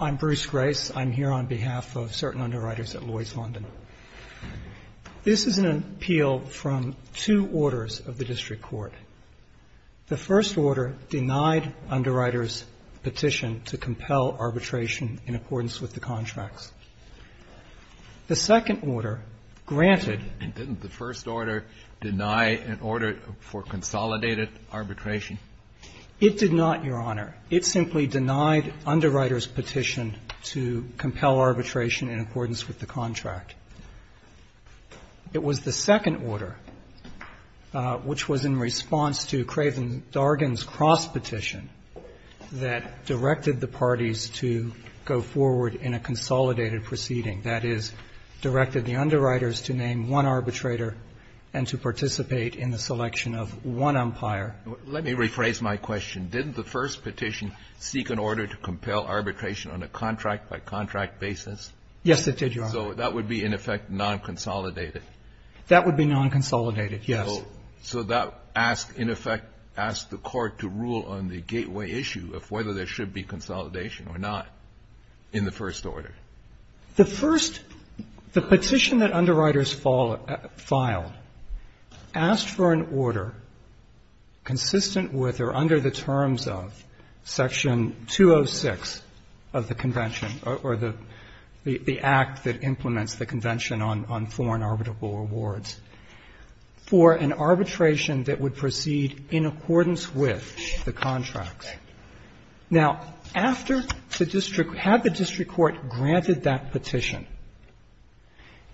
I'm Bruce Grace. I'm here on behalf of CERTAIN UNDERWRITERS at Lloyds London. This is an appeal from two orders of the District Court. The first order denied underwriters petition to compel arbitration in accordance with the contracts. The second order granted Didn't the first order deny an order for consolidated arbitration? It did not, Your Honor. It simply denied underwriters petition to compel arbitration in accordance with the contract. It was the second order, which was in response to Cravens Dargan's cross-petition, that directed the parties to go forward in a consolidated proceeding. That is, directed the underwriters to name one arbitrator and to participate in the selection of one umpire. Let me rephrase my question. Didn't the first petition seek an order to compel arbitration on a contract-by-contract basis? Yes, it did, Your Honor. So that would be, in effect, non-consolidated. That would be non-consolidated, yes. So that asked, in effect, asked the Court to rule on the gateway issue of whether there should be consolidation or not in the first order. The first, the petition that underwriters filed asked for an order consistent with or under the terms of Section 206 of the Convention or the Act that implements the Convention on Foreign Arbitrable Rewards for an arbitration that would proceed in accordance with the contract. Now, after the district had the district court granted that petition,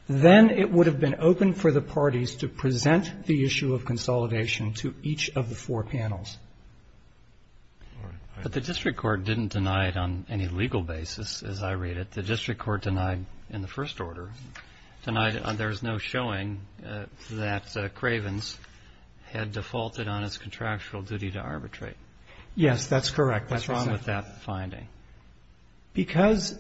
then it would have been open for the parties to present the issue of consolidation to each of the four panels. But the district court didn't deny it on any legal basis, as I read it. The district court denied in the first order. There's no showing that Cravens had defaulted on his contractual duty to arbitrate. Yes, that's correct. That's what I'm saying. Robertson, what's wrong with that finding? Because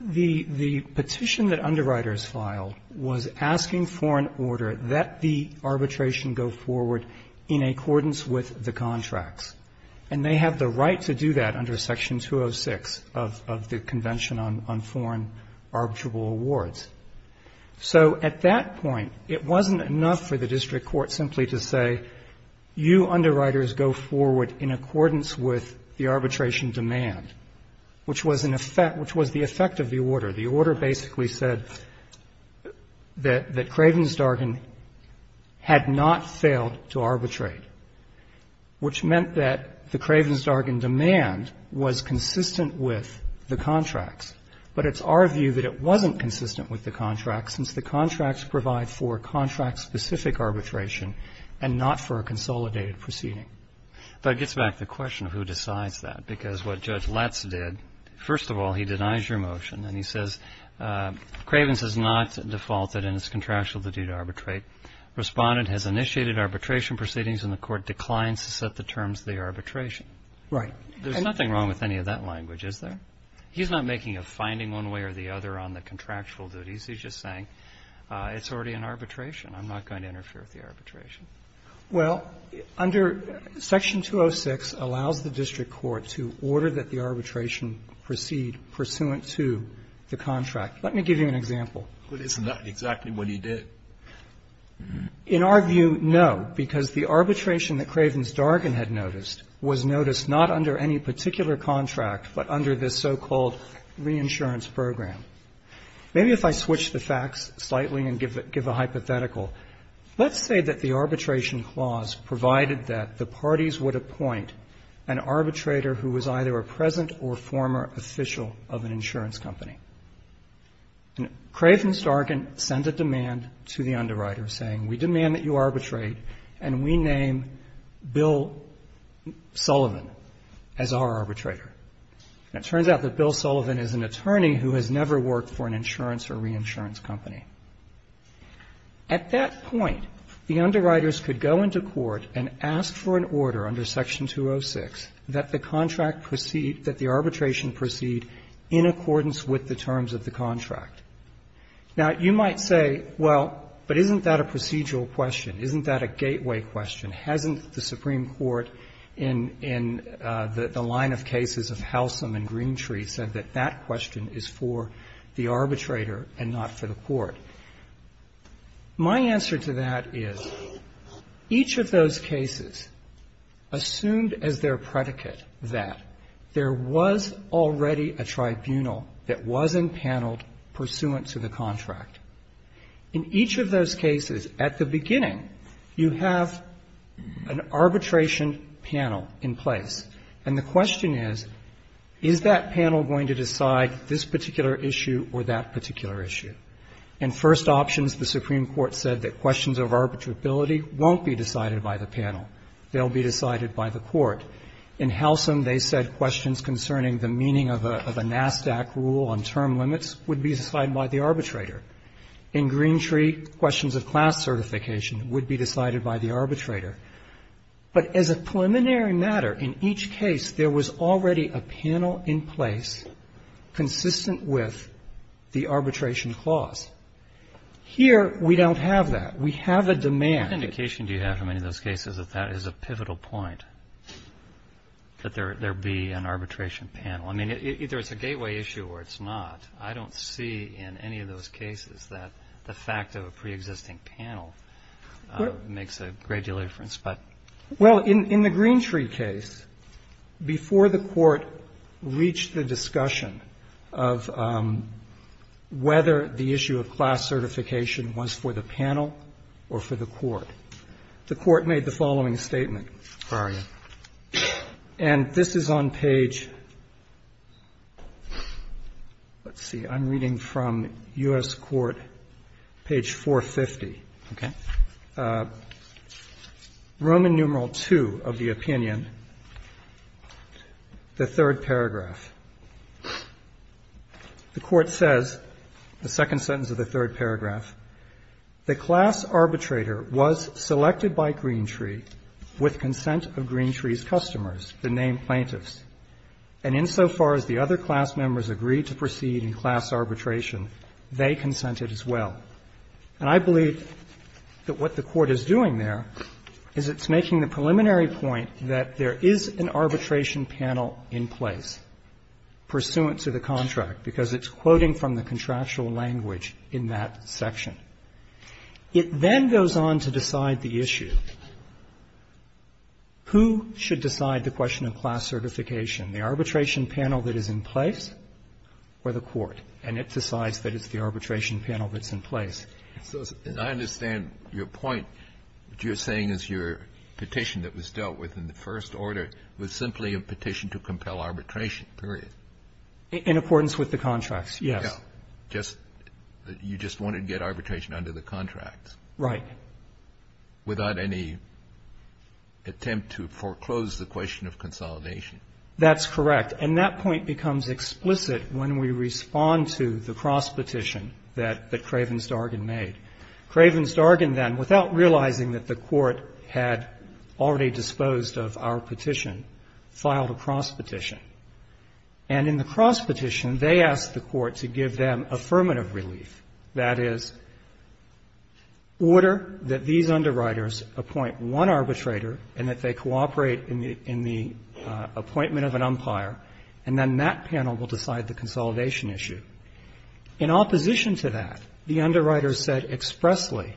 the petition that underwriters filed was asking for an order that the arbitration go forward in accordance with the contracts. And they have the right to do that under Section 206 of the Convention on Foreign Arbitrable Rewards. So at that point, it wasn't enough for the district court simply to say, you underwriters go forward in accordance with the arbitration demand, which was an effect of the order. The order basically said that Cravens-Dargan had not failed to arbitrate, which meant that the Cravens-Dargan demand was consistent with the contracts. But it's our view that it wasn't consistent with the contracts, since the contracts provide for contract-specific arbitration and not for a consolidated proceeding. But it gets back to the question of who decides that, because what Judge Letts did, first of all, he denies your motion. And he says, Cravens has not defaulted in his contractual duty to arbitrate. Respondent has initiated arbitration proceedings, and the Court declines to set the terms of the arbitration. Right. There's nothing wrong with any of that language, is there? He's not making a finding one way or the other on the contractual duties. He's just saying it's already an arbitration. I'm not going to interfere with the arbitration. Well, under Section 206 allows the district court to order that the arbitration proceed pursuant to the contract. Let me give you an example. But isn't that exactly what he did? In our view, no, because the arbitration that Cravens-Dargan had noticed was noticed not under any particular contract, but under this so-called reinsurance program. Maybe if I switch the facts slightly and give a hypothetical, let's say that the arbitration clause provided that the parties would appoint an arbitrator who was either a present or former official of an insurance company. And Cravens-Dargan sent a demand to the underwriter saying, we demand that you arbitrate and we name Bill Sullivan as our arbitrator. And it turns out that Bill Sullivan is an attorney who has never worked for an insurance or reinsurance company. At that point, the underwriters could go into court and ask for an order under Section 206 that the contract proceed, that the arbitration proceed in accordance with the terms of the contract. Now, you might say, well, but isn't that a procedural question? Isn't that a gateway question? Hasn't the Supreme Court in the line of cases of Halcyon and Greentree said that that question is for the arbitrator and not for the court? My answer to that is, each of those cases assumed as their predicate that there was already a tribunal that was empaneled pursuant to the contract. In each of those cases, at the beginning, you have an arbitration panel in place. And the question is, is that panel going to decide this particular issue or that particular issue? In first options, the Supreme Court said that questions of arbitrability won't be decided by the panel. They'll be decided by the court. In Halcyon, they said questions concerning the meaning of a NASDAQ rule on term limits would be decided by the arbitrator. In Greentree, questions of class certification would be decided by the arbitrator. But as a preliminary matter, in each case, there was already a panel in place consistent with the arbitration clause. Here, we don't have that. We have a demand. Roberts. What indication do you have from any of those cases that that is a pivotal point, that there be an arbitration panel? I mean, either it's a gateway issue or it's not. I don't see in any of those cases that the fact of a preexisting panel makes a great deal of difference. Well, in the Greentree case, before the Court reached the discussion of whether the issue of class certification was for the panel or for the Court, the Court made the following statement. And this is on page, let's see, I'm reading from U.S. Court, page 450. Okay. Roman numeral II of the opinion, the third paragraph. The Court says, the second sentence of the third paragraph, the class arbitrator was selected by Greentree with consent of Greentree's customers, the named plaintiffs. And insofar as the other class members agreed to proceed in class arbitration, they consented as well. And I believe that what the Court is doing there is it's making the preliminary point that there is an arbitration panel in place pursuant to the contract, because it's quoting from the contractual language in that section. It then goes on to decide the issue. Who should decide the question of class certification, the arbitration panel that is in place. Kennedy. So I understand your point. What you're saying is your petition that was dealt with in the first order was simply a petition to compel arbitration, period. In accordance with the contracts, yes. Just that you just wanted to get arbitration under the contracts. Right. Without any attempt to foreclose the question of consolidation. That's correct. And that point becomes explicit when we respond to the cross-petition that Kravens-Dargan made. Kravens-Dargan then, without realizing that the Court had already disposed of our petition, filed a cross-petition. And in the cross-petition, they asked the Court to give them affirmative relief, that is, order that these underwriters appoint one arbitrator and that they cooperate in the appointment of an umpire, and then that panel will decide the consolidation issue. In opposition to that, the underwriters said expressly,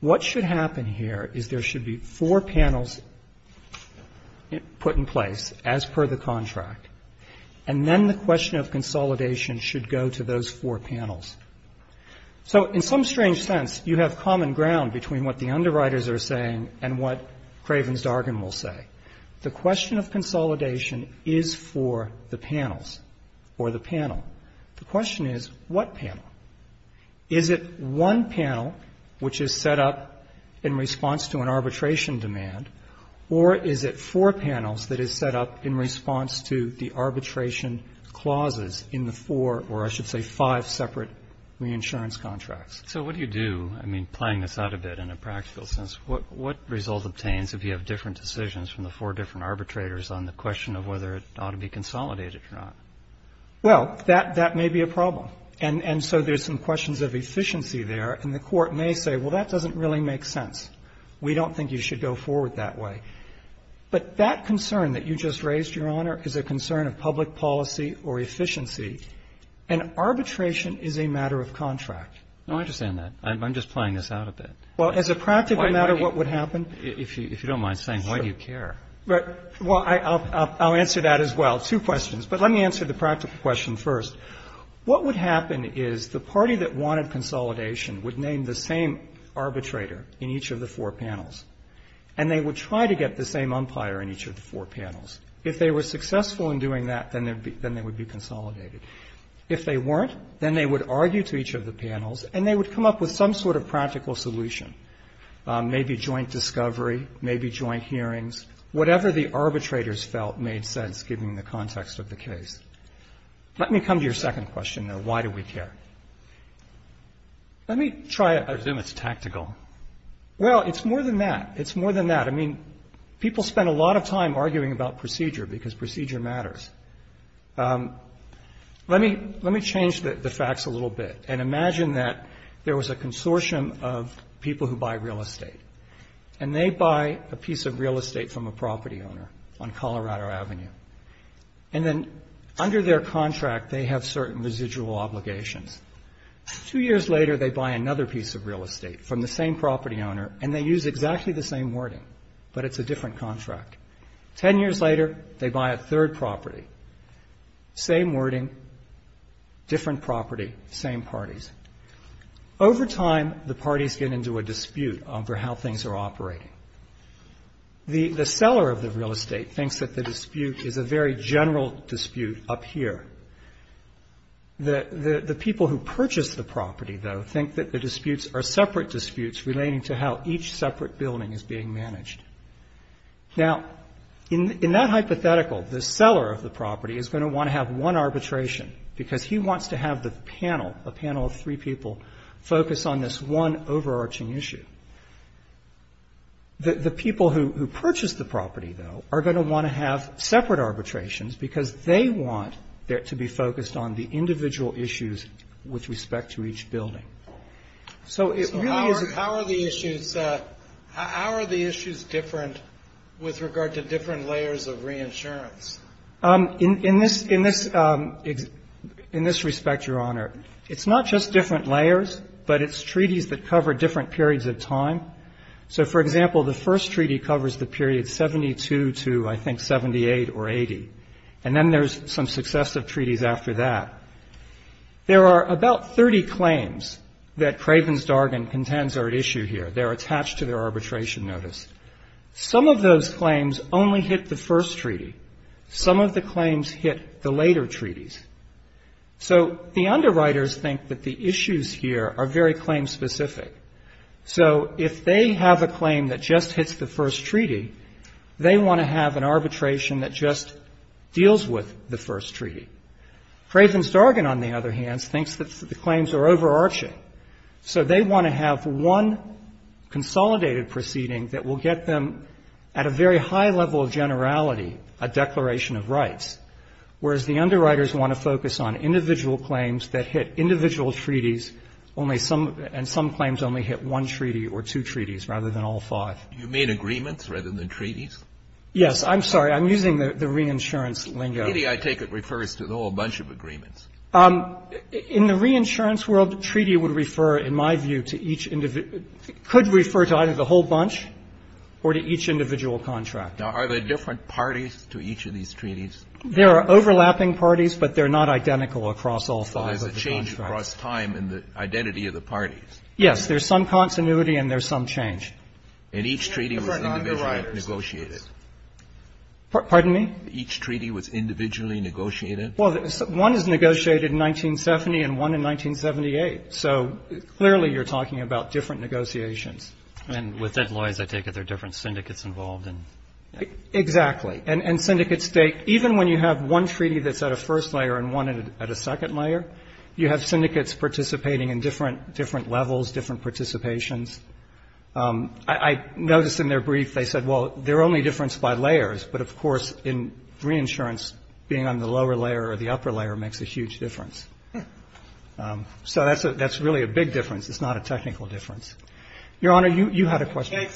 what should happen here is there should be four panels put in place as per the contract, and then the question of consolidation should go to those four panels. So in some strange sense, you have common ground between what the underwriters are saying and what Kravens-Dargan will say. The question of consolidation is for the panels or the panel. The question is, what panel? Is it one panel which is set up in response to an arbitration demand, or is it four panels that is set up in response to the arbitration clauses in the four, or I should say five separate reinsurance contracts? So what do you do? I mean, playing this out a bit in a practical sense, what result obtains if you have different decisions from the four different arbitrators on the question of whether it ought to be consolidated or not? Well, that may be a problem. And so there's some questions of efficiency there, and the Court may say, well, that doesn't really make sense. We don't think you should go forward that way. But that concern that you just raised, Your Honor, is a concern of public policy or efficiency, and arbitration is a matter of contract. No, I understand that. I'm just playing this out a bit. Well, as a practical matter, what would happen? If you don't mind saying, why do you care? Well, I'll answer that as well, two questions. But let me answer the practical question first. What would happen is the party that wanted consolidation would name the same arbitrator in each of the four panels, and they would try to get the same umpire in each of the four panels. If they were successful in doing that, then they would be consolidated. If they weren't, then they would argue to each of the panels, and they would come up with some sort of practical solution, maybe joint discovery, maybe joint hearings, whatever the arbitrators felt made sense, given the context of the case. Let me come to your second question, though. Why do we care? Let me try a bit. I presume it's tactical. Well, it's more than that. It's more than that. I mean, people spend a lot of time arguing about procedure because procedure matters. Let me change the facts a little bit and imagine that there was a consortium of people who buy real estate, and they buy a piece of real estate from a property owner on Colorado Avenue. And then under their contract, they have certain residual obligations. Two years later, they buy another piece of real estate from the same property owner, and they use exactly the same wording, but it's a different contract. Ten years later, they buy a third property. Same wording, different property, same parties. Over time, the parties get into a dispute over how things are operating. The seller of the real estate thinks that the dispute is a very general dispute up here. The people who purchased the property, though, think that the disputes are separate disputes relating to how each separate building is being managed. Now, in that hypothetical, the seller of the property is going to want to have one arbitration because he wants to have the panel, a panel of three people, focus on this one overarching issue. The people who purchased the property, though, are going to want to have separate arbitrations because they want it to be focused on the individual issues with respect to each building. So it really is a How are the issues different with regard to different layers of reinsurance? In this respect, Your Honor, it's not just different layers, but it's treaties that cover different periods of time. So, for example, the first treaty covers the period 72 to, I think, 78 or 80. And then there's some successive treaties after that. There are about 30 claims that Craven's Dargan contends are at issue here. They're attached to their arbitration notice. Some of those claims only hit the first treaty. Some of the claims hit the later treaties. So the underwriters think that the issues here are very claim-specific. So if they have a claim that just hits the first treaty, they want to have an arbitration that just deals with the first treaty. Craven's Dargan, on the other hand, thinks that the claims are overarching. So they want to have one consolidated proceeding that will get them, at a very high level of generality, a declaration of rights. Whereas the underwriters want to focus on individual claims that hit individual treaties, and some claims only hit one treaty or two treaties rather than all five. Do you mean agreements rather than treaties? Yes. I'm sorry. I'm using the reinsurance lingo. The treaty, I take it, refers to the whole bunch of agreements. In the reinsurance world, the treaty would refer, in my view, to each individual It could refer to either the whole bunch or to each individual contract. Now, are there different parties to each of these treaties? There are overlapping parties, but they're not identical across all five of the contracts. So there's a change across time in the identity of the parties. Yes. There's some continuity and there's some change. And each treaty was individually negotiated. Pardon me? Each treaty was individually negotiated? Well, one is negotiated in 1970 and one in 1978. So clearly you're talking about different negotiations. And with that law, as I take it, there are different syndicates involved in it. Exactly. And syndicates take even when you have one treaty that's at a first layer and one at a second layer, you have syndicates participating in different levels, different participations. I noticed in their brief they said, well, they're only differenced by layers, but of course, in reinsurance, being on the lower layer or the upper layer makes a huge difference. So that's really a big difference. It's not a technical difference. Your Honor, you had a question.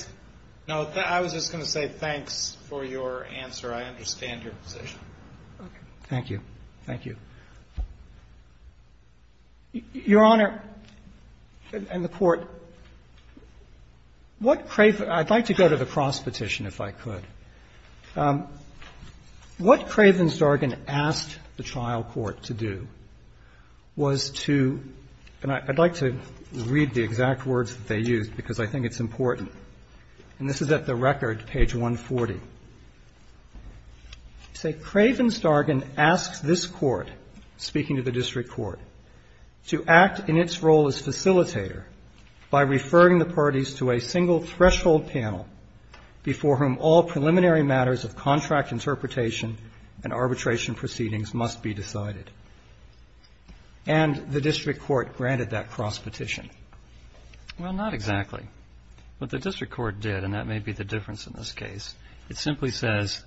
No, I was just going to say thanks for your answer. I understand your position. Thank you. Thank you. Your Honor, and the Court, what I'd like to go to the cross petition, if I could. What Craven-Stargin asked the trial court to do was to — and I'd like to read the exact words that they used, because I think it's important, and this is at the record, page 140. They say, "...Craven-Stargin asked this Court, speaking to the district court, to act in its role as facilitator by referring the parties to a single threshold panel before whom all preliminary matters of contract interpretation and arbitration proceedings must be decided. And the district court granted that cross petition." Well, not exactly. What the district court did, and that may be the difference in this case, it simply says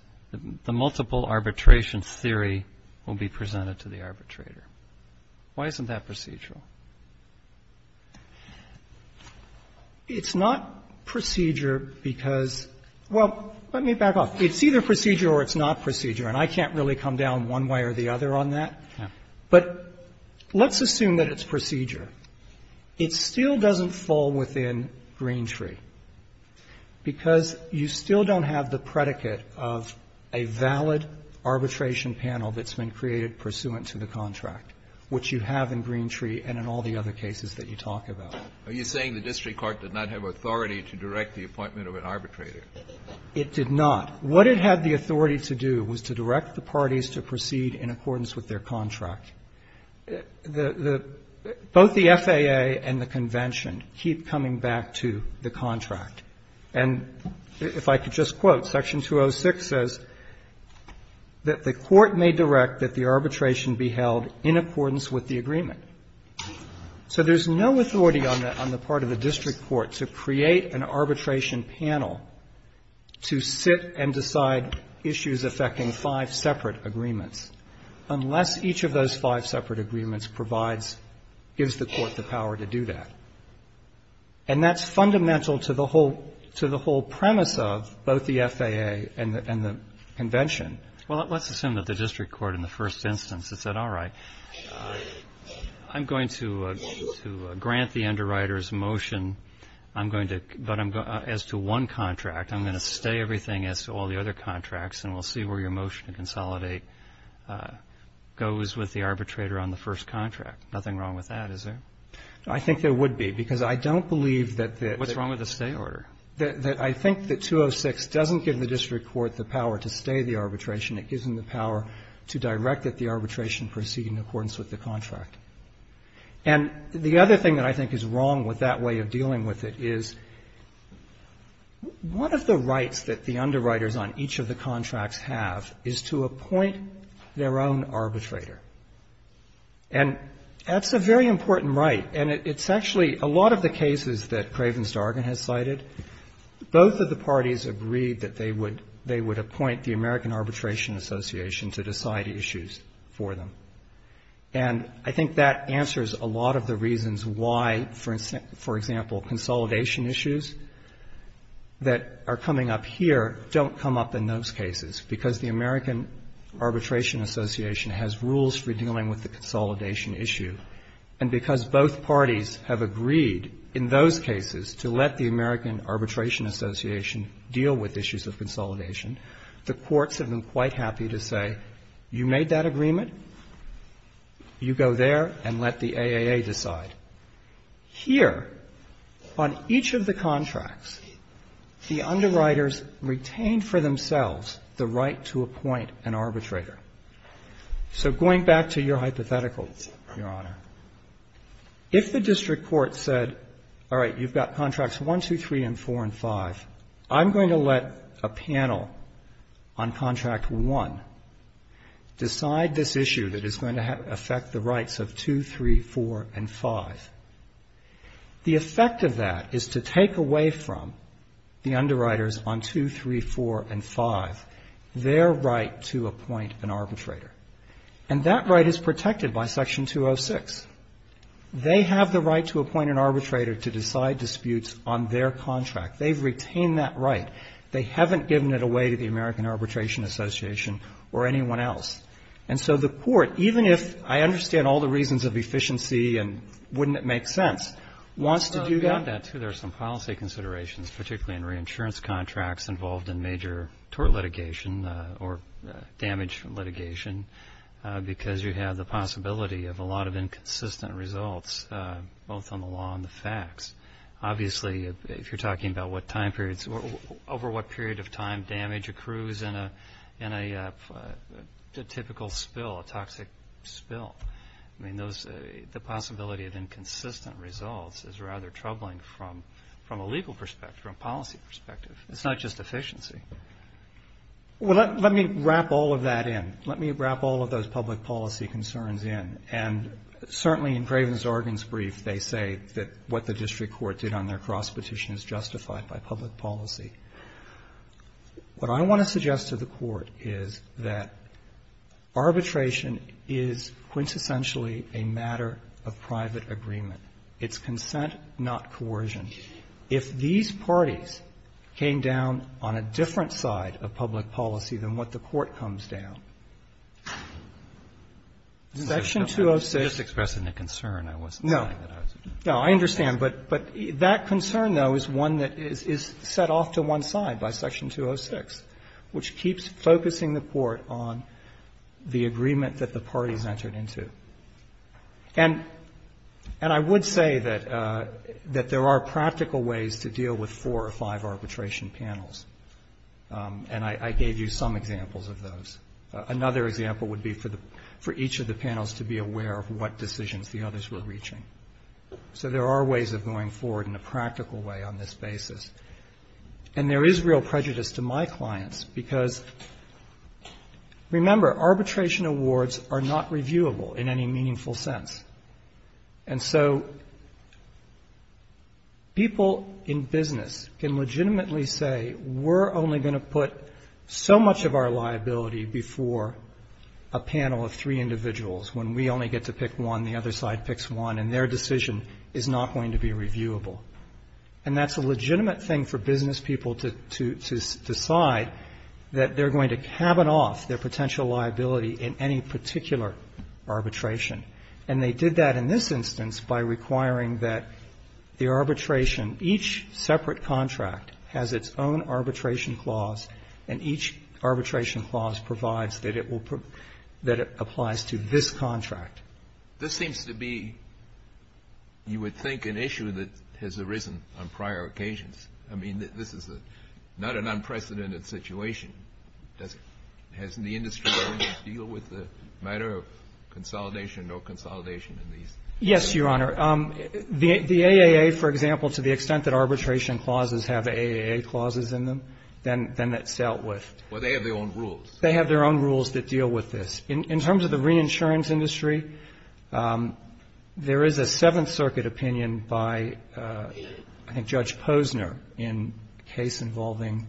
the multiple arbitration theory will be presented to the arbitrator. Why isn't that procedural? It's not procedure because — well, let me back off. It's either procedure or it's not procedure, and I can't really come down one way or the other on that. But let's assume that it's procedure. It still doesn't fall within Green Tree, because you still don't have the predicate of a valid arbitration panel that's been created pursuant to the contract, which you have in Green Tree and in all the other cases that you talk about. Kennedy, are you saying the district court did not have authority to direct the appointment of an arbitrator? It did not. What it had the authority to do was to direct the parties to proceed in accordance with their contract. The — both the FAA and the Convention keep coming back to the contract. And if I could just quote, Section 206 says that the court may direct that the arbitration be held in accordance with the agreement. So there's no authority on the part of the district court to create an arbitration panel to sit and decide issues affecting five separate agreements, unless each of those five separate agreements provides — gives the court the power to do that. And that's fundamental to the whole — to the whole premise of both the FAA and the Convention. Well, let's assume that the district court in the first instance had said, all right, I'm going to grant the underwriter's motion, I'm going to — but as to one contract, I'm going to stay everything as to all the other contracts, and we'll see where your motion to consolidate goes with the arbitrator on the first contract. Nothing wrong with that, is there? I think there would be, because I don't believe that the — What's wrong with the stay order? That — that I think that 206 doesn't give the district court the power to stay the arbitration. It gives them the power to direct that the arbitration proceed in accordance with the contract. And the other thing that I think is wrong with that way of dealing with it is one of the rights that the underwriters on each of the contracts have is to appoint their own arbitrator. And that's a very important right, and it's actually — a lot of the cases that Craven-Dargan has cited, both of the parties agreed that they would — they would appoint the American Arbitration Association to decide issues for them. And I think that answers a lot of the reasons why, for instance — for example, consolidation issues that are coming up here don't come up in those cases, because the American Arbitration Association has rules for dealing with the consolidation issue, and because both parties have agreed in those cases to let the American Arbitration Association deal with issues of consolidation, the courts have been quite happy to say, you made that agreement, you go there and let the AAA decide. Here, on each of the contracts, the underwriters retain for themselves the right to appoint an arbitrator. So going back to your hypothetical, Your Honor, if the district court said, all right, you've got contracts 1, 2, 3, and 4, and 5, I'm going to let a panel on contract 1 decide this issue that is going to affect the rights of 2, 3, 4, and 5. The effect of that is to take away from the underwriters on 2, 3, 4, and 5 their right to appoint an arbitrator. And that right is protected by Section 206. They have the right to appoint an arbitrator to decide disputes on their contract. They've retained that right. They haven't given it away to the American Arbitration Association or anyone else. And so the court, even if — I understand all the reasons of efficiency and wouldn't it make sense — wants to do that. Well, you've got that, too. There are some policy considerations, particularly in reinsurance contracts involved in major tort litigation or damage litigation, because you have the possibility of a lot of inconsistent results, both on the law and the facts. Obviously, if you're talking about what time periods — over what period of time damage accrues in a typical spill, a toxic spill, I mean, those — the possibility of inconsistent results is rather troubling from a legal perspective, from a policy perspective. It's not just efficiency. Well, let me wrap all of that in. Let me wrap all of those public policy concerns in. And certainly in Craven's Argonne's brief, they say that what the district court did on their cross-petition is justified by public policy. What I want to suggest to the Court is that arbitration is quintessentially a matter of private agreement. It's consent, not coercion. If these parties came down on a different side of public policy than what the Court comes down, Section 206 — You're just expressing a concern. I wasn't saying that I was — No. No, I understand. But that concern, though, is one that is set off to one side by Section 206, which keeps focusing the Court on the agreement that the parties entered into. And I would say that there are practical ways to deal with four or five arbitration panels. And I gave you some examples of those. Another example would be for each of the panels to be aware of what decisions the others were reaching. So there are ways of going forward in a practical way on this basis. And there is real prejudice to my clients because, remember, arbitration awards are not reviewable in any meaningful sense. And so people in business can legitimately say, we're only going to put so much of our liability before a panel of three individuals when we only get to pick one, the other side picks one, and their decision is not going to be reviewable. And that's a legitimate thing for business people to decide, that they're going to cabin off their potential liability in any particular arbitration. And they did that in this instance by requiring that the arbitration — each separate contract has its own arbitration clause, and each arbitration clause provides that it will — that it applies to this contract. This seems to be, you would think, an issue that has arisen on prior occasions. I mean, this is not an unprecedented situation. Has the industry been able to deal with the matter of consolidation or no consolidation in these cases? Yes, Your Honor. The AAA, for example, to the extent that arbitration clauses have AAA clauses in them, then that dealt with — Well, they have their own rules. They have their own rules that deal with this. In terms of the reinsurance industry, there is a Seventh Circuit opinion by, I think, Judge Posner in a case involving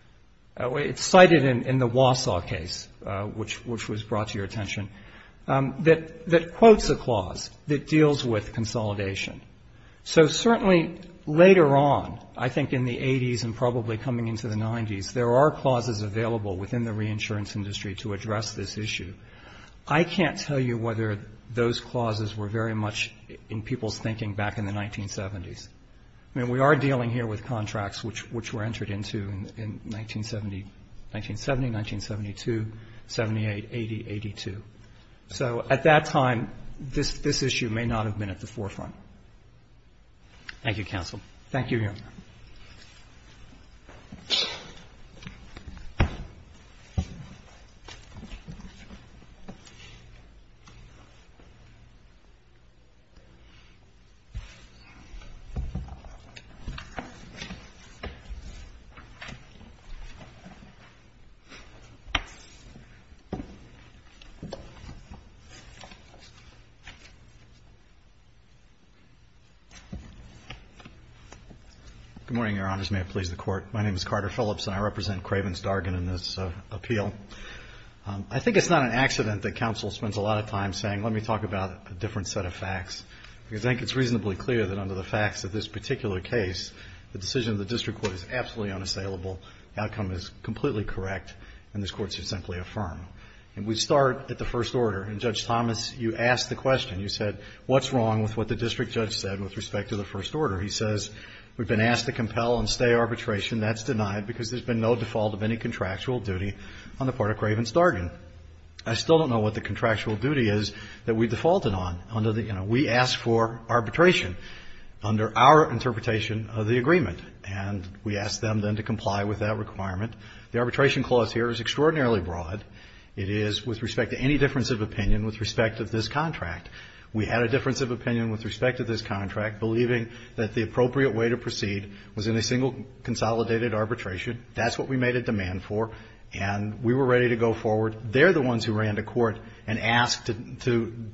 — it's cited in the Wausau case, which was brought to your attention, that quotes a clause that deals with consolidation. So certainly later on, I think in the 80s and probably coming into the 90s, there are I can't tell you whether those clauses were very much in people's thinking back in the 1970s. I mean, we are dealing here with contracts which were entered into in 1970, 1970, 1972, 78, 80, 82. So at that time, this issue may not have been at the forefront. Thank you, counsel. Thank you, Your Honor. Good morning, Your Honors. May it please the Court. My name is Carter Phillips, and I represent Craven's Dargan in this appeal. I think it's not an accident that counsel spends a lot of time saying, let me talk about a different set of facts, because I think it's reasonably clear that under the facts of this particular case, the decision of the district court is absolutely unassailable, the outcome is completely correct, and this Court should simply affirm. And we start at the first order. And, Judge Thomas, you asked the question. You said, what's wrong with what the district judge said with respect to the first order? He says, we've been asked to compel and stay arbitration. That's denied because there's been no default of any contractual duty on the part of Craven's Dargan. I still don't know what the contractual duty is that we defaulted on under the, you know, we asked for arbitration under our interpretation of the agreement, and we asked them, then, to comply with that requirement. The arbitration clause here is extraordinarily broad. It is with respect to any difference of opinion with respect to this contract. We had a difference of opinion with respect to this contract, believing that the appropriate way to proceed was in a single consolidated arbitration. That's what we made a demand for, and we were ready to go forward. They're the ones who ran to court and asked to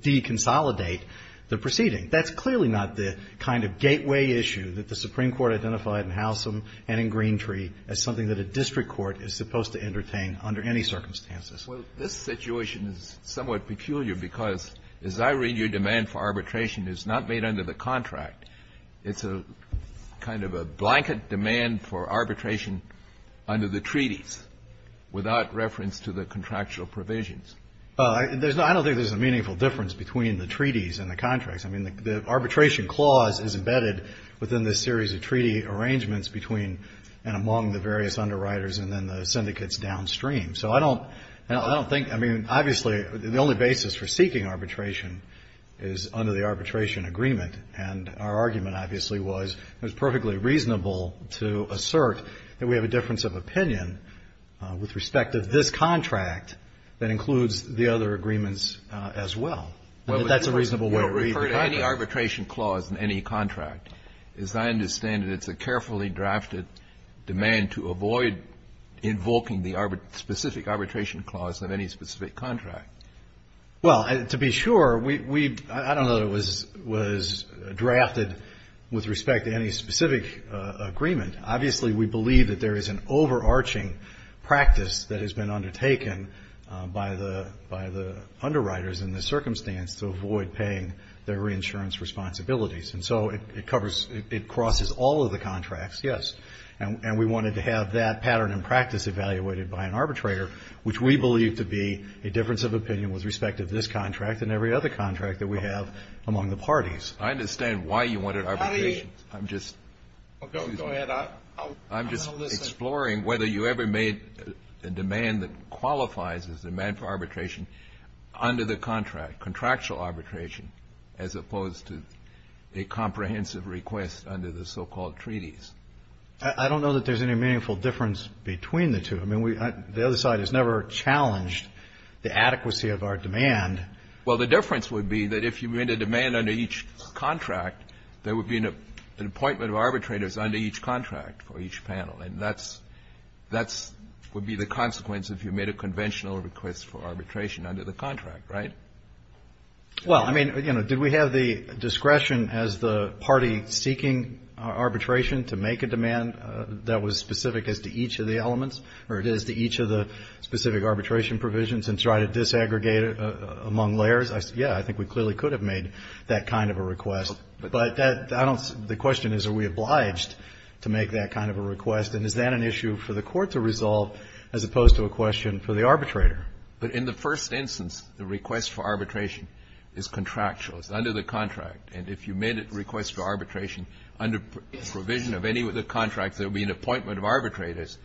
deconsolidate the proceeding. That's clearly not the kind of gateway issue that the Supreme Court identified in Howsam and in Greentree as something that a district court is supposed to entertain under any circumstances. Well, this situation is somewhat peculiar because, as I read your demand for arbitration, it's not made under the contract. It's a kind of a blanket demand for arbitration under the treaties without reference to the contractual provisions. I don't think there's a meaningful difference between the treaties and the contracts. I mean, the arbitration clause is embedded within this series of treaty arrangements between and among the various underwriters and then the syndicates downstream. So I don't think, I mean, obviously, the only basis for seeking arbitration is under the arbitration agreement, and our argument, obviously, was it was perfectly reasonable to assert that we have a difference of opinion with respect to this contract that includes the other agreements as well. And that's a reasonable way to read the contract. You don't refer to any arbitration clause in any contract. As I understand it, it's a carefully drafted demand to avoid invoking the specific arbitration clause of any specific contract. Well, to be sure, we, I don't know that it was drafted with respect to any specific agreement. Obviously, we believe that there is an overarching practice that has been undertaken by the underwriters in this circumstance to avoid paying their reinsurance responsibilities. And so it covers, it crosses all of the contracts, yes, and we wanted to have that pattern and practice evaluated by an arbitrator, which we believe to be a difference of opinion with respect to this contract and every other contract that we have among the parties. I understand why you wanted arbitration. I'm just, I'm just exploring whether you ever made a demand that qualifies as a demand for arbitration under the contract, contractual arbitration, as opposed to a comprehensive request under the so-called treaties. I don't know that there's any meaningful difference between the two. I mean, we, the other side has never challenged the adequacy of our demand. Well, the difference would be that if you made a demand under each contract, there would be an appointment of arbitrators under each contract for each panel. And that's, that's would be the consequence if you made a conventional request for arbitration under the contract, right? Well, I mean, you know, did we have the discretion as the party seeking arbitration to make a demand that was specific as to each of the elements or it is to each of the specific arbitration provisions and try to disaggregate it among layers? I said, yeah, I think we clearly could have made that kind of a request, but that I don't, the question is, are we obliged to make that kind of a request? And is that an issue for the Court to resolve as opposed to a question for the arbitrator? But in the first instance, the request for arbitration is contractual. It's under the contract. And if you made a request for arbitration under provision of any of the contracts, there would be an appointment of arbitrators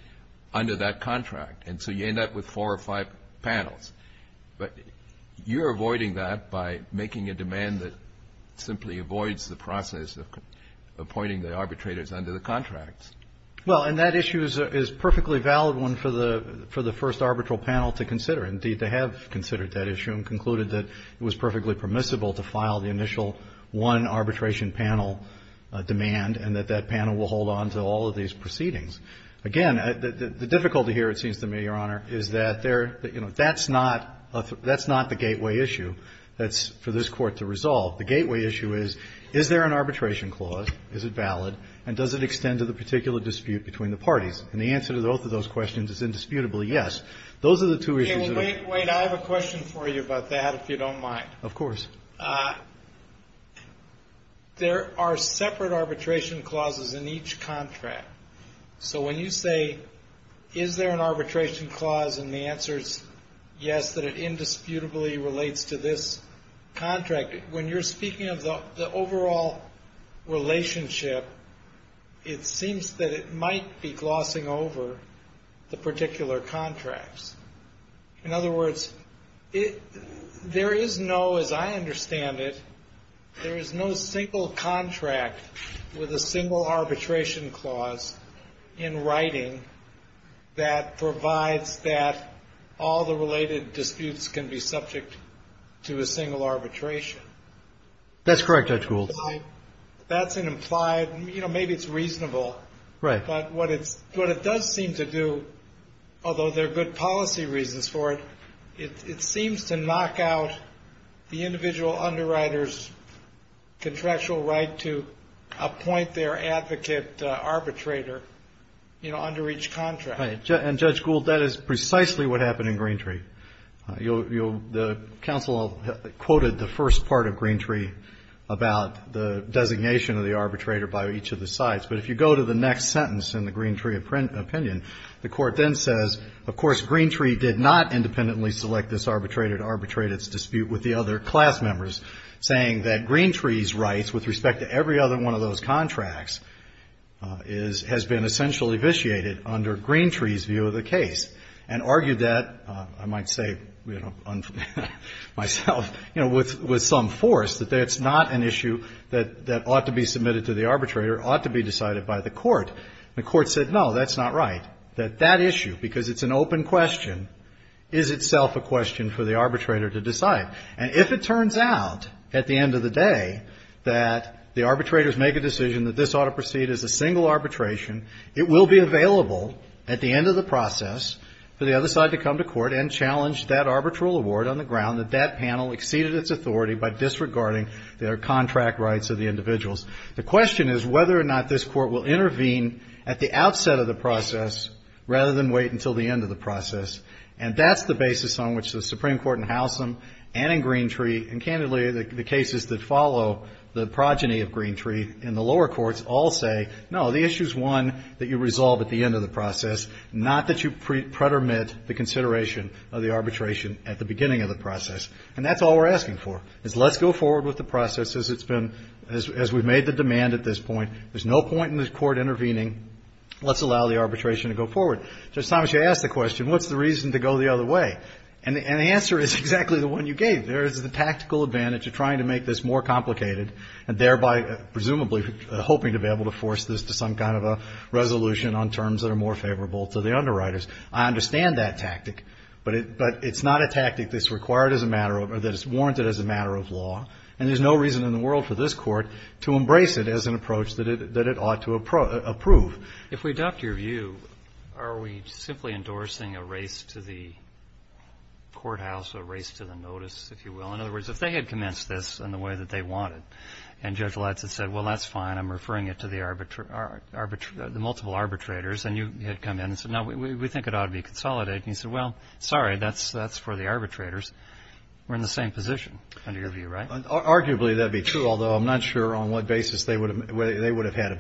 under that contract. And so you end up with four or five panels. But you're avoiding that by making a demand that simply avoids the process of appointing the arbitrators under the contracts. Well, and that issue is a perfectly valid one for the first arbitral panel to consider. Indeed, they have considered that issue and concluded that it was perfectly permissible to file the initial one arbitration panel demand and that that panel will hold on to all of these proceedings. Again, the difficulty here, it seems to me, Your Honor, is that there, you know, that's not the gateway issue that's for this Court to resolve. The gateway issue is, is there an arbitration clause? Is it valid? And does it extend to the particular dispute between the parties? And the answer to both of those questions is indisputably yes. Those are the two issues that are. Wait, wait. I have a question for you about that, if you don't mind. Of course. There are separate arbitration clauses in each contract. So when you say, is there an arbitration clause? And the answer is yes, that it indisputably relates to this contract. When you're speaking of the overall relationship, it seems that it might be glossing over the particular contracts. In other words, there is no, as I understand it, there is no single contract with a single arbitration clause in writing that provides that all the related That's correct, Judge Gould. That's an implied, you know, maybe it's reasonable, but what it's, what it does seem to do, although there are good policy reasons for it, it seems to knock out the individual underwriter's contractual right to appoint their advocate arbitrator, you know, under each contract. And Judge Gould, that is precisely what happened in Greentree. You'll, you'll, the counsel quoted the first part of Greentree about the designation of the arbitrator by each of the sides. But if you go to the next sentence in the Greentree opinion, the court then says, of course, Greentree did not independently select this arbitrator to arbitrate its dispute with the other class members, saying that Greentree's rights with respect to every other one of those contracts is, has been essentially under Greentree's view of the case and argued that, I might say, you know, myself, you know, with, with some force that that's not an issue that, that ought to be submitted to the arbitrator, ought to be decided by the court. And the court said, no, that's not right, that that issue, because it's an open question, is itself a question for the arbitrator to decide. And if it turns out at the end of the day, that the arbitrators make a decision that this ought to proceed as a single arbitration, it will be available at the end of the process for the other side to come to court and challenge that arbitral award on the ground that that panel exceeded its authority by disregarding their contract rights of the individuals. The question is whether or not this court will intervene at the outset of the process, rather than wait until the end of the process. And that's the basis on which the Supreme Court in Howsam and in Greentree and other courts all say, no, the issue is one that you resolve at the end of the process, not that you pretermit the consideration of the arbitration at the beginning of the process. And that's all we're asking for is let's go forward with the process as it's been, as we've made the demand at this point, there's no point in this court intervening. Let's allow the arbitration to go forward. So sometimes you ask the question, what's the reason to go the other way? And the answer is exactly the one you gave. There is the tactical advantage of trying to make this more complicated and thereby, presumably, hoping to be able to force this to some kind of a resolution on terms that are more favorable to the underwriters. I understand that tactic, but it's not a tactic that's required as a matter of, or that is warranted as a matter of law. And there's no reason in the world for this court to embrace it as an approach that it ought to approve. If we adopt your view, are we simply endorsing a race to the courthouse, a race to the notice, if you will? In other words, if they had commenced this in the way that they wanted, and Judge Letts had said, well, that's fine. I'm referring it to the multiple arbitrators. And you had come in and said, no, we think it ought to be consolidated. And you said, well, sorry, that's for the arbitrators. We're in the same position under your view, right? Arguably, that'd be true, although I'm not sure on what basis they would have had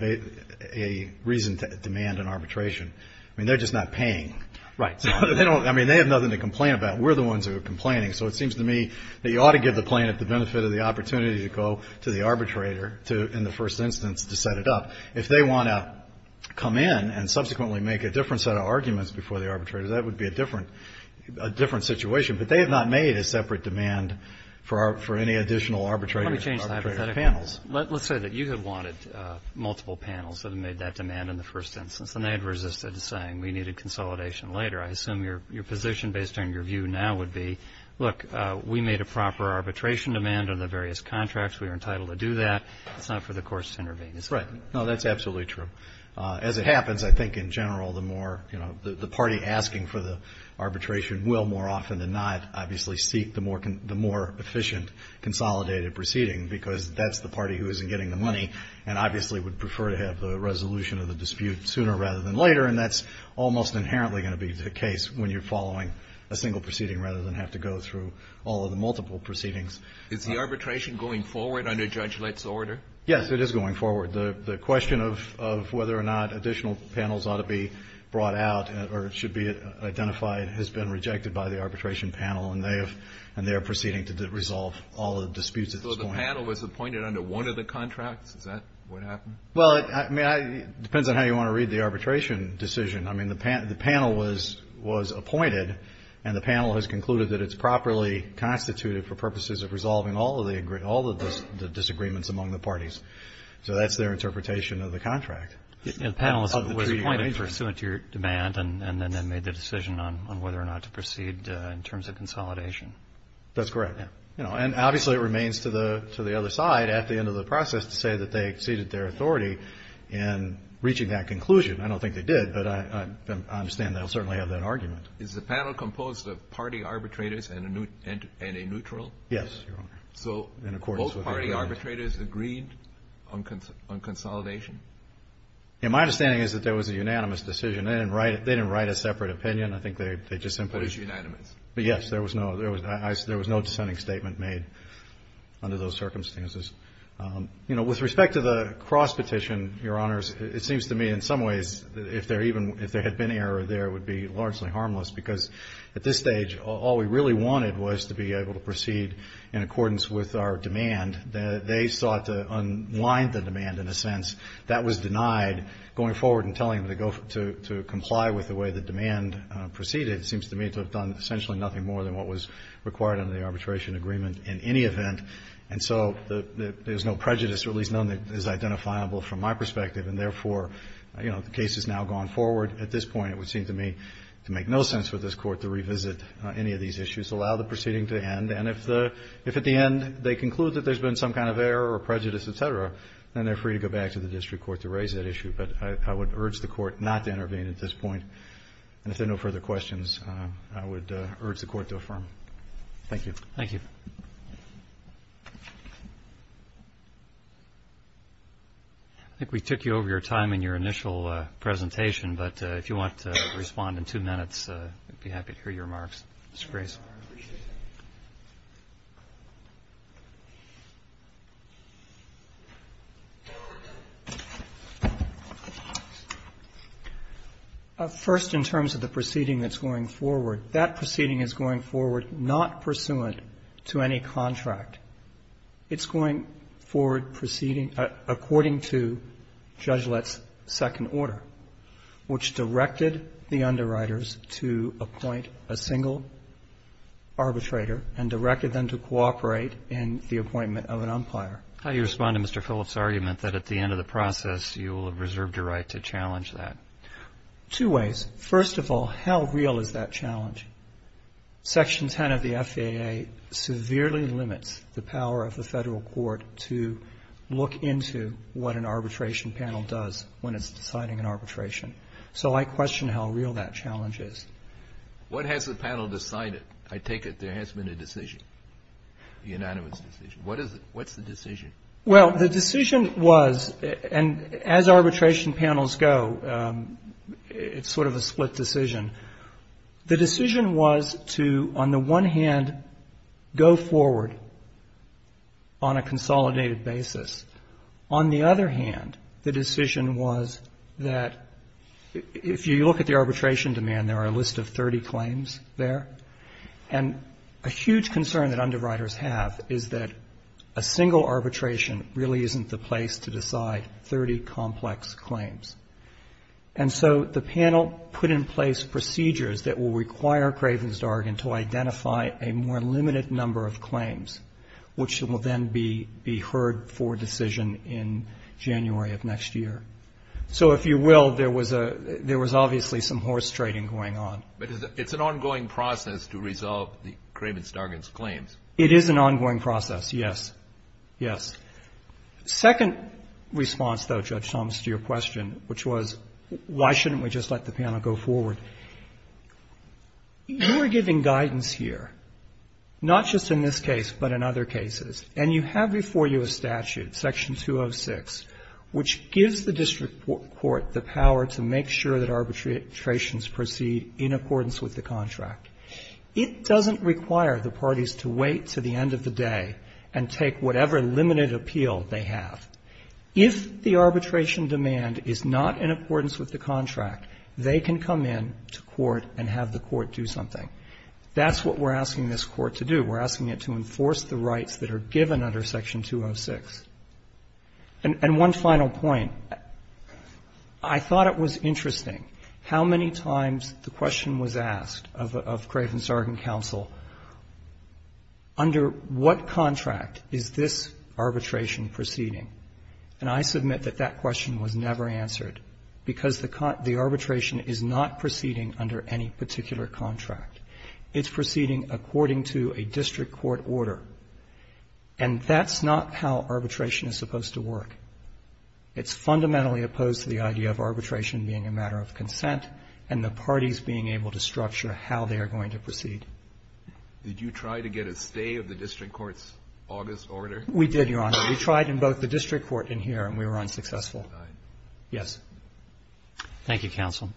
a reason to demand an arbitration. I mean, they're just not paying. Right. I mean, they have nothing to complain about. We're the ones who are complaining. So it seems to me that you ought to give the plaintiff the benefit of the opportunity to go to the arbitrator to, in the first instance, to set it up. If they want to come in and subsequently make a different set of arguments before the arbitrator, that would be a different situation. But they have not made a separate demand for any additional arbitrator panels. Let's say that you had wanted multiple panels that had made that demand in the first instance, and they had resisted saying we needed consolidation later. I assume your position, based on your view now, would be, look, we made a proper arbitration demand on the various contracts. We are entitled to do that. It's not for the courts to intervene. Right. No, that's absolutely true. As it happens, I think in general, the more, you know, the party asking for the arbitration will more often than not, obviously, seek the more efficient consolidated proceeding, because that's the party who isn't getting the money and obviously would prefer to have the resolution of the dispute sooner rather than later. And that's almost inherently going to be the case when you're following a single proceeding rather than have to go through all of the multiple proceedings. Is the arbitration going forward under Judge Lett's order? Yes, it is going forward. The question of whether or not additional panels ought to be brought out or should be identified has been rejected by the arbitration panel, and they are proceeding to resolve all the disputes at this point. So the panel was appointed under one of the contracts? Is that what happened? Well, I mean, it depends on how you want to read the arbitration decision. I mean, the panel was appointed and the panel has concluded that it's properly constituted for purposes of resolving all of the disagreements among the parties. So that's their interpretation of the contract. And the panel was appointed pursuant to your demand and then made the decision on whether or not to proceed in terms of consolidation. That's correct. And obviously, it remains to the other side at the end of the process to say that they exceeded their authority in reaching that conclusion. I don't think they did, but I understand they'll certainly have that argument. Is the panel composed of party arbitrators and a neutral? Yes, Your Honor. So both party arbitrators agreed on consolidation? My understanding is that there was a unanimous decision. They didn't write a separate opinion. I think they just simply... But it's unanimous. But yes, there was no dissenting statement made under those circumstances. You know, with respect to the cross petition, Your Honors, it seems to me in some ways, if there even, if there had been error there, it would be largely harmless because at this stage, all we really wanted was to be able to proceed in accordance with our demand. They sought to unwind the demand in a sense that was denied. Going forward and telling them to go to comply with the way the demand proceeded seems to me to have done essentially nothing more than what was required under the arbitration agreement in any event. And so there's no prejudice, or at least none that is identifiable from my perspective. And therefore, you know, the case has now gone forward. At this point, it would seem to me to make no sense for this Court to revisit any of these issues, allow the proceeding to end. And if the, if at the end they conclude that there's been some kind of error or prejudice, et cetera, then they're free to go back to the district court to raise that issue. But I would urge the Court not to intervene at this point. And if there are no further questions, I would urge the Court to affirm. Thank you. Thank you. I think we took you over your time in your initial presentation. But if you want to respond in two minutes, I'd be happy to hear your remarks. Mr. Grace. First, in terms of the proceeding that's going forward, that proceeding is going forward not pursuant to any contract. It's going forward proceeding according to Judge Lett's second order, which directed the underwriters to appoint a single arbitrator and directed them to cooperate in the appointment of an umpire. How do you respond to Mr. Phillips' argument that at the end of the process, you will have reserved your right to challenge that? Two ways. First of all, how real is that challenge? Section 10 of the FAA severely limits the power of the Federal Court to look into what an arbitration panel does when it's deciding an arbitration. So I question how real that challenge is. What has the panel decided? I take it there has been a decision, unanimous decision. What is it? What's the decision? Well, the decision was, and as arbitration panels go, it's sort of a split decision. The decision was to, on the one hand, go forward on a consolidated basis. On the other hand, the decision was that if you look at the arbitration demand, there are a list of 30 claims there. And a huge concern that underwriters have is that a single arbitration really isn't the place to decide 30 complex claims. And so the panel put in place procedures that will require Craven's Dargan to identify a more limited number of claims, which will then be heard for decision in January of next year. So if you will, there was obviously some horse trading going on. But it's an ongoing process to resolve the Craven's Dargan's claims. It is an ongoing process, yes. Yes. The second response, though, Judge Thomas, to your question, which was why shouldn't we just let the panel go forward, you are giving guidance here, not just in this case, but in other cases. And you have before you a statute, Section 206, which gives the district court the power to make sure that arbitrations proceed in accordance with the contract. It doesn't require the parties to wait to the end of the day and take whatever limited appeal they have. If the arbitration demand is not in accordance with the contract, they can come in to court and have the court do something. That's what we're asking this Court to do. We're asking it to enforce the rights that are given under Section 206. And one final point. I thought it was interesting how many times the question was asked of Craven's Dargan counsel, under what contract is this arbitration proceeding? And I submit that that question was never answered because the arbitration is not proceeding under any particular contract. It's proceeding according to a district court order, and that's not how arbitration is supposed to work. It's fundamentally opposed to the idea of arbitration being a matter of consent and the parties being able to structure how they are going to proceed. Did you try to get a stay of the district court's August order? We did, Your Honor. We tried in both the district court and here, and we were unsuccessful. Yes. Thank you, counsel.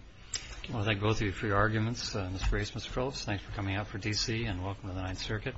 I want to thank both of you for your arguments. Mr. Race, Mr. Troves, thanks for coming out for D.C. and welcome to the Ninth Circuit.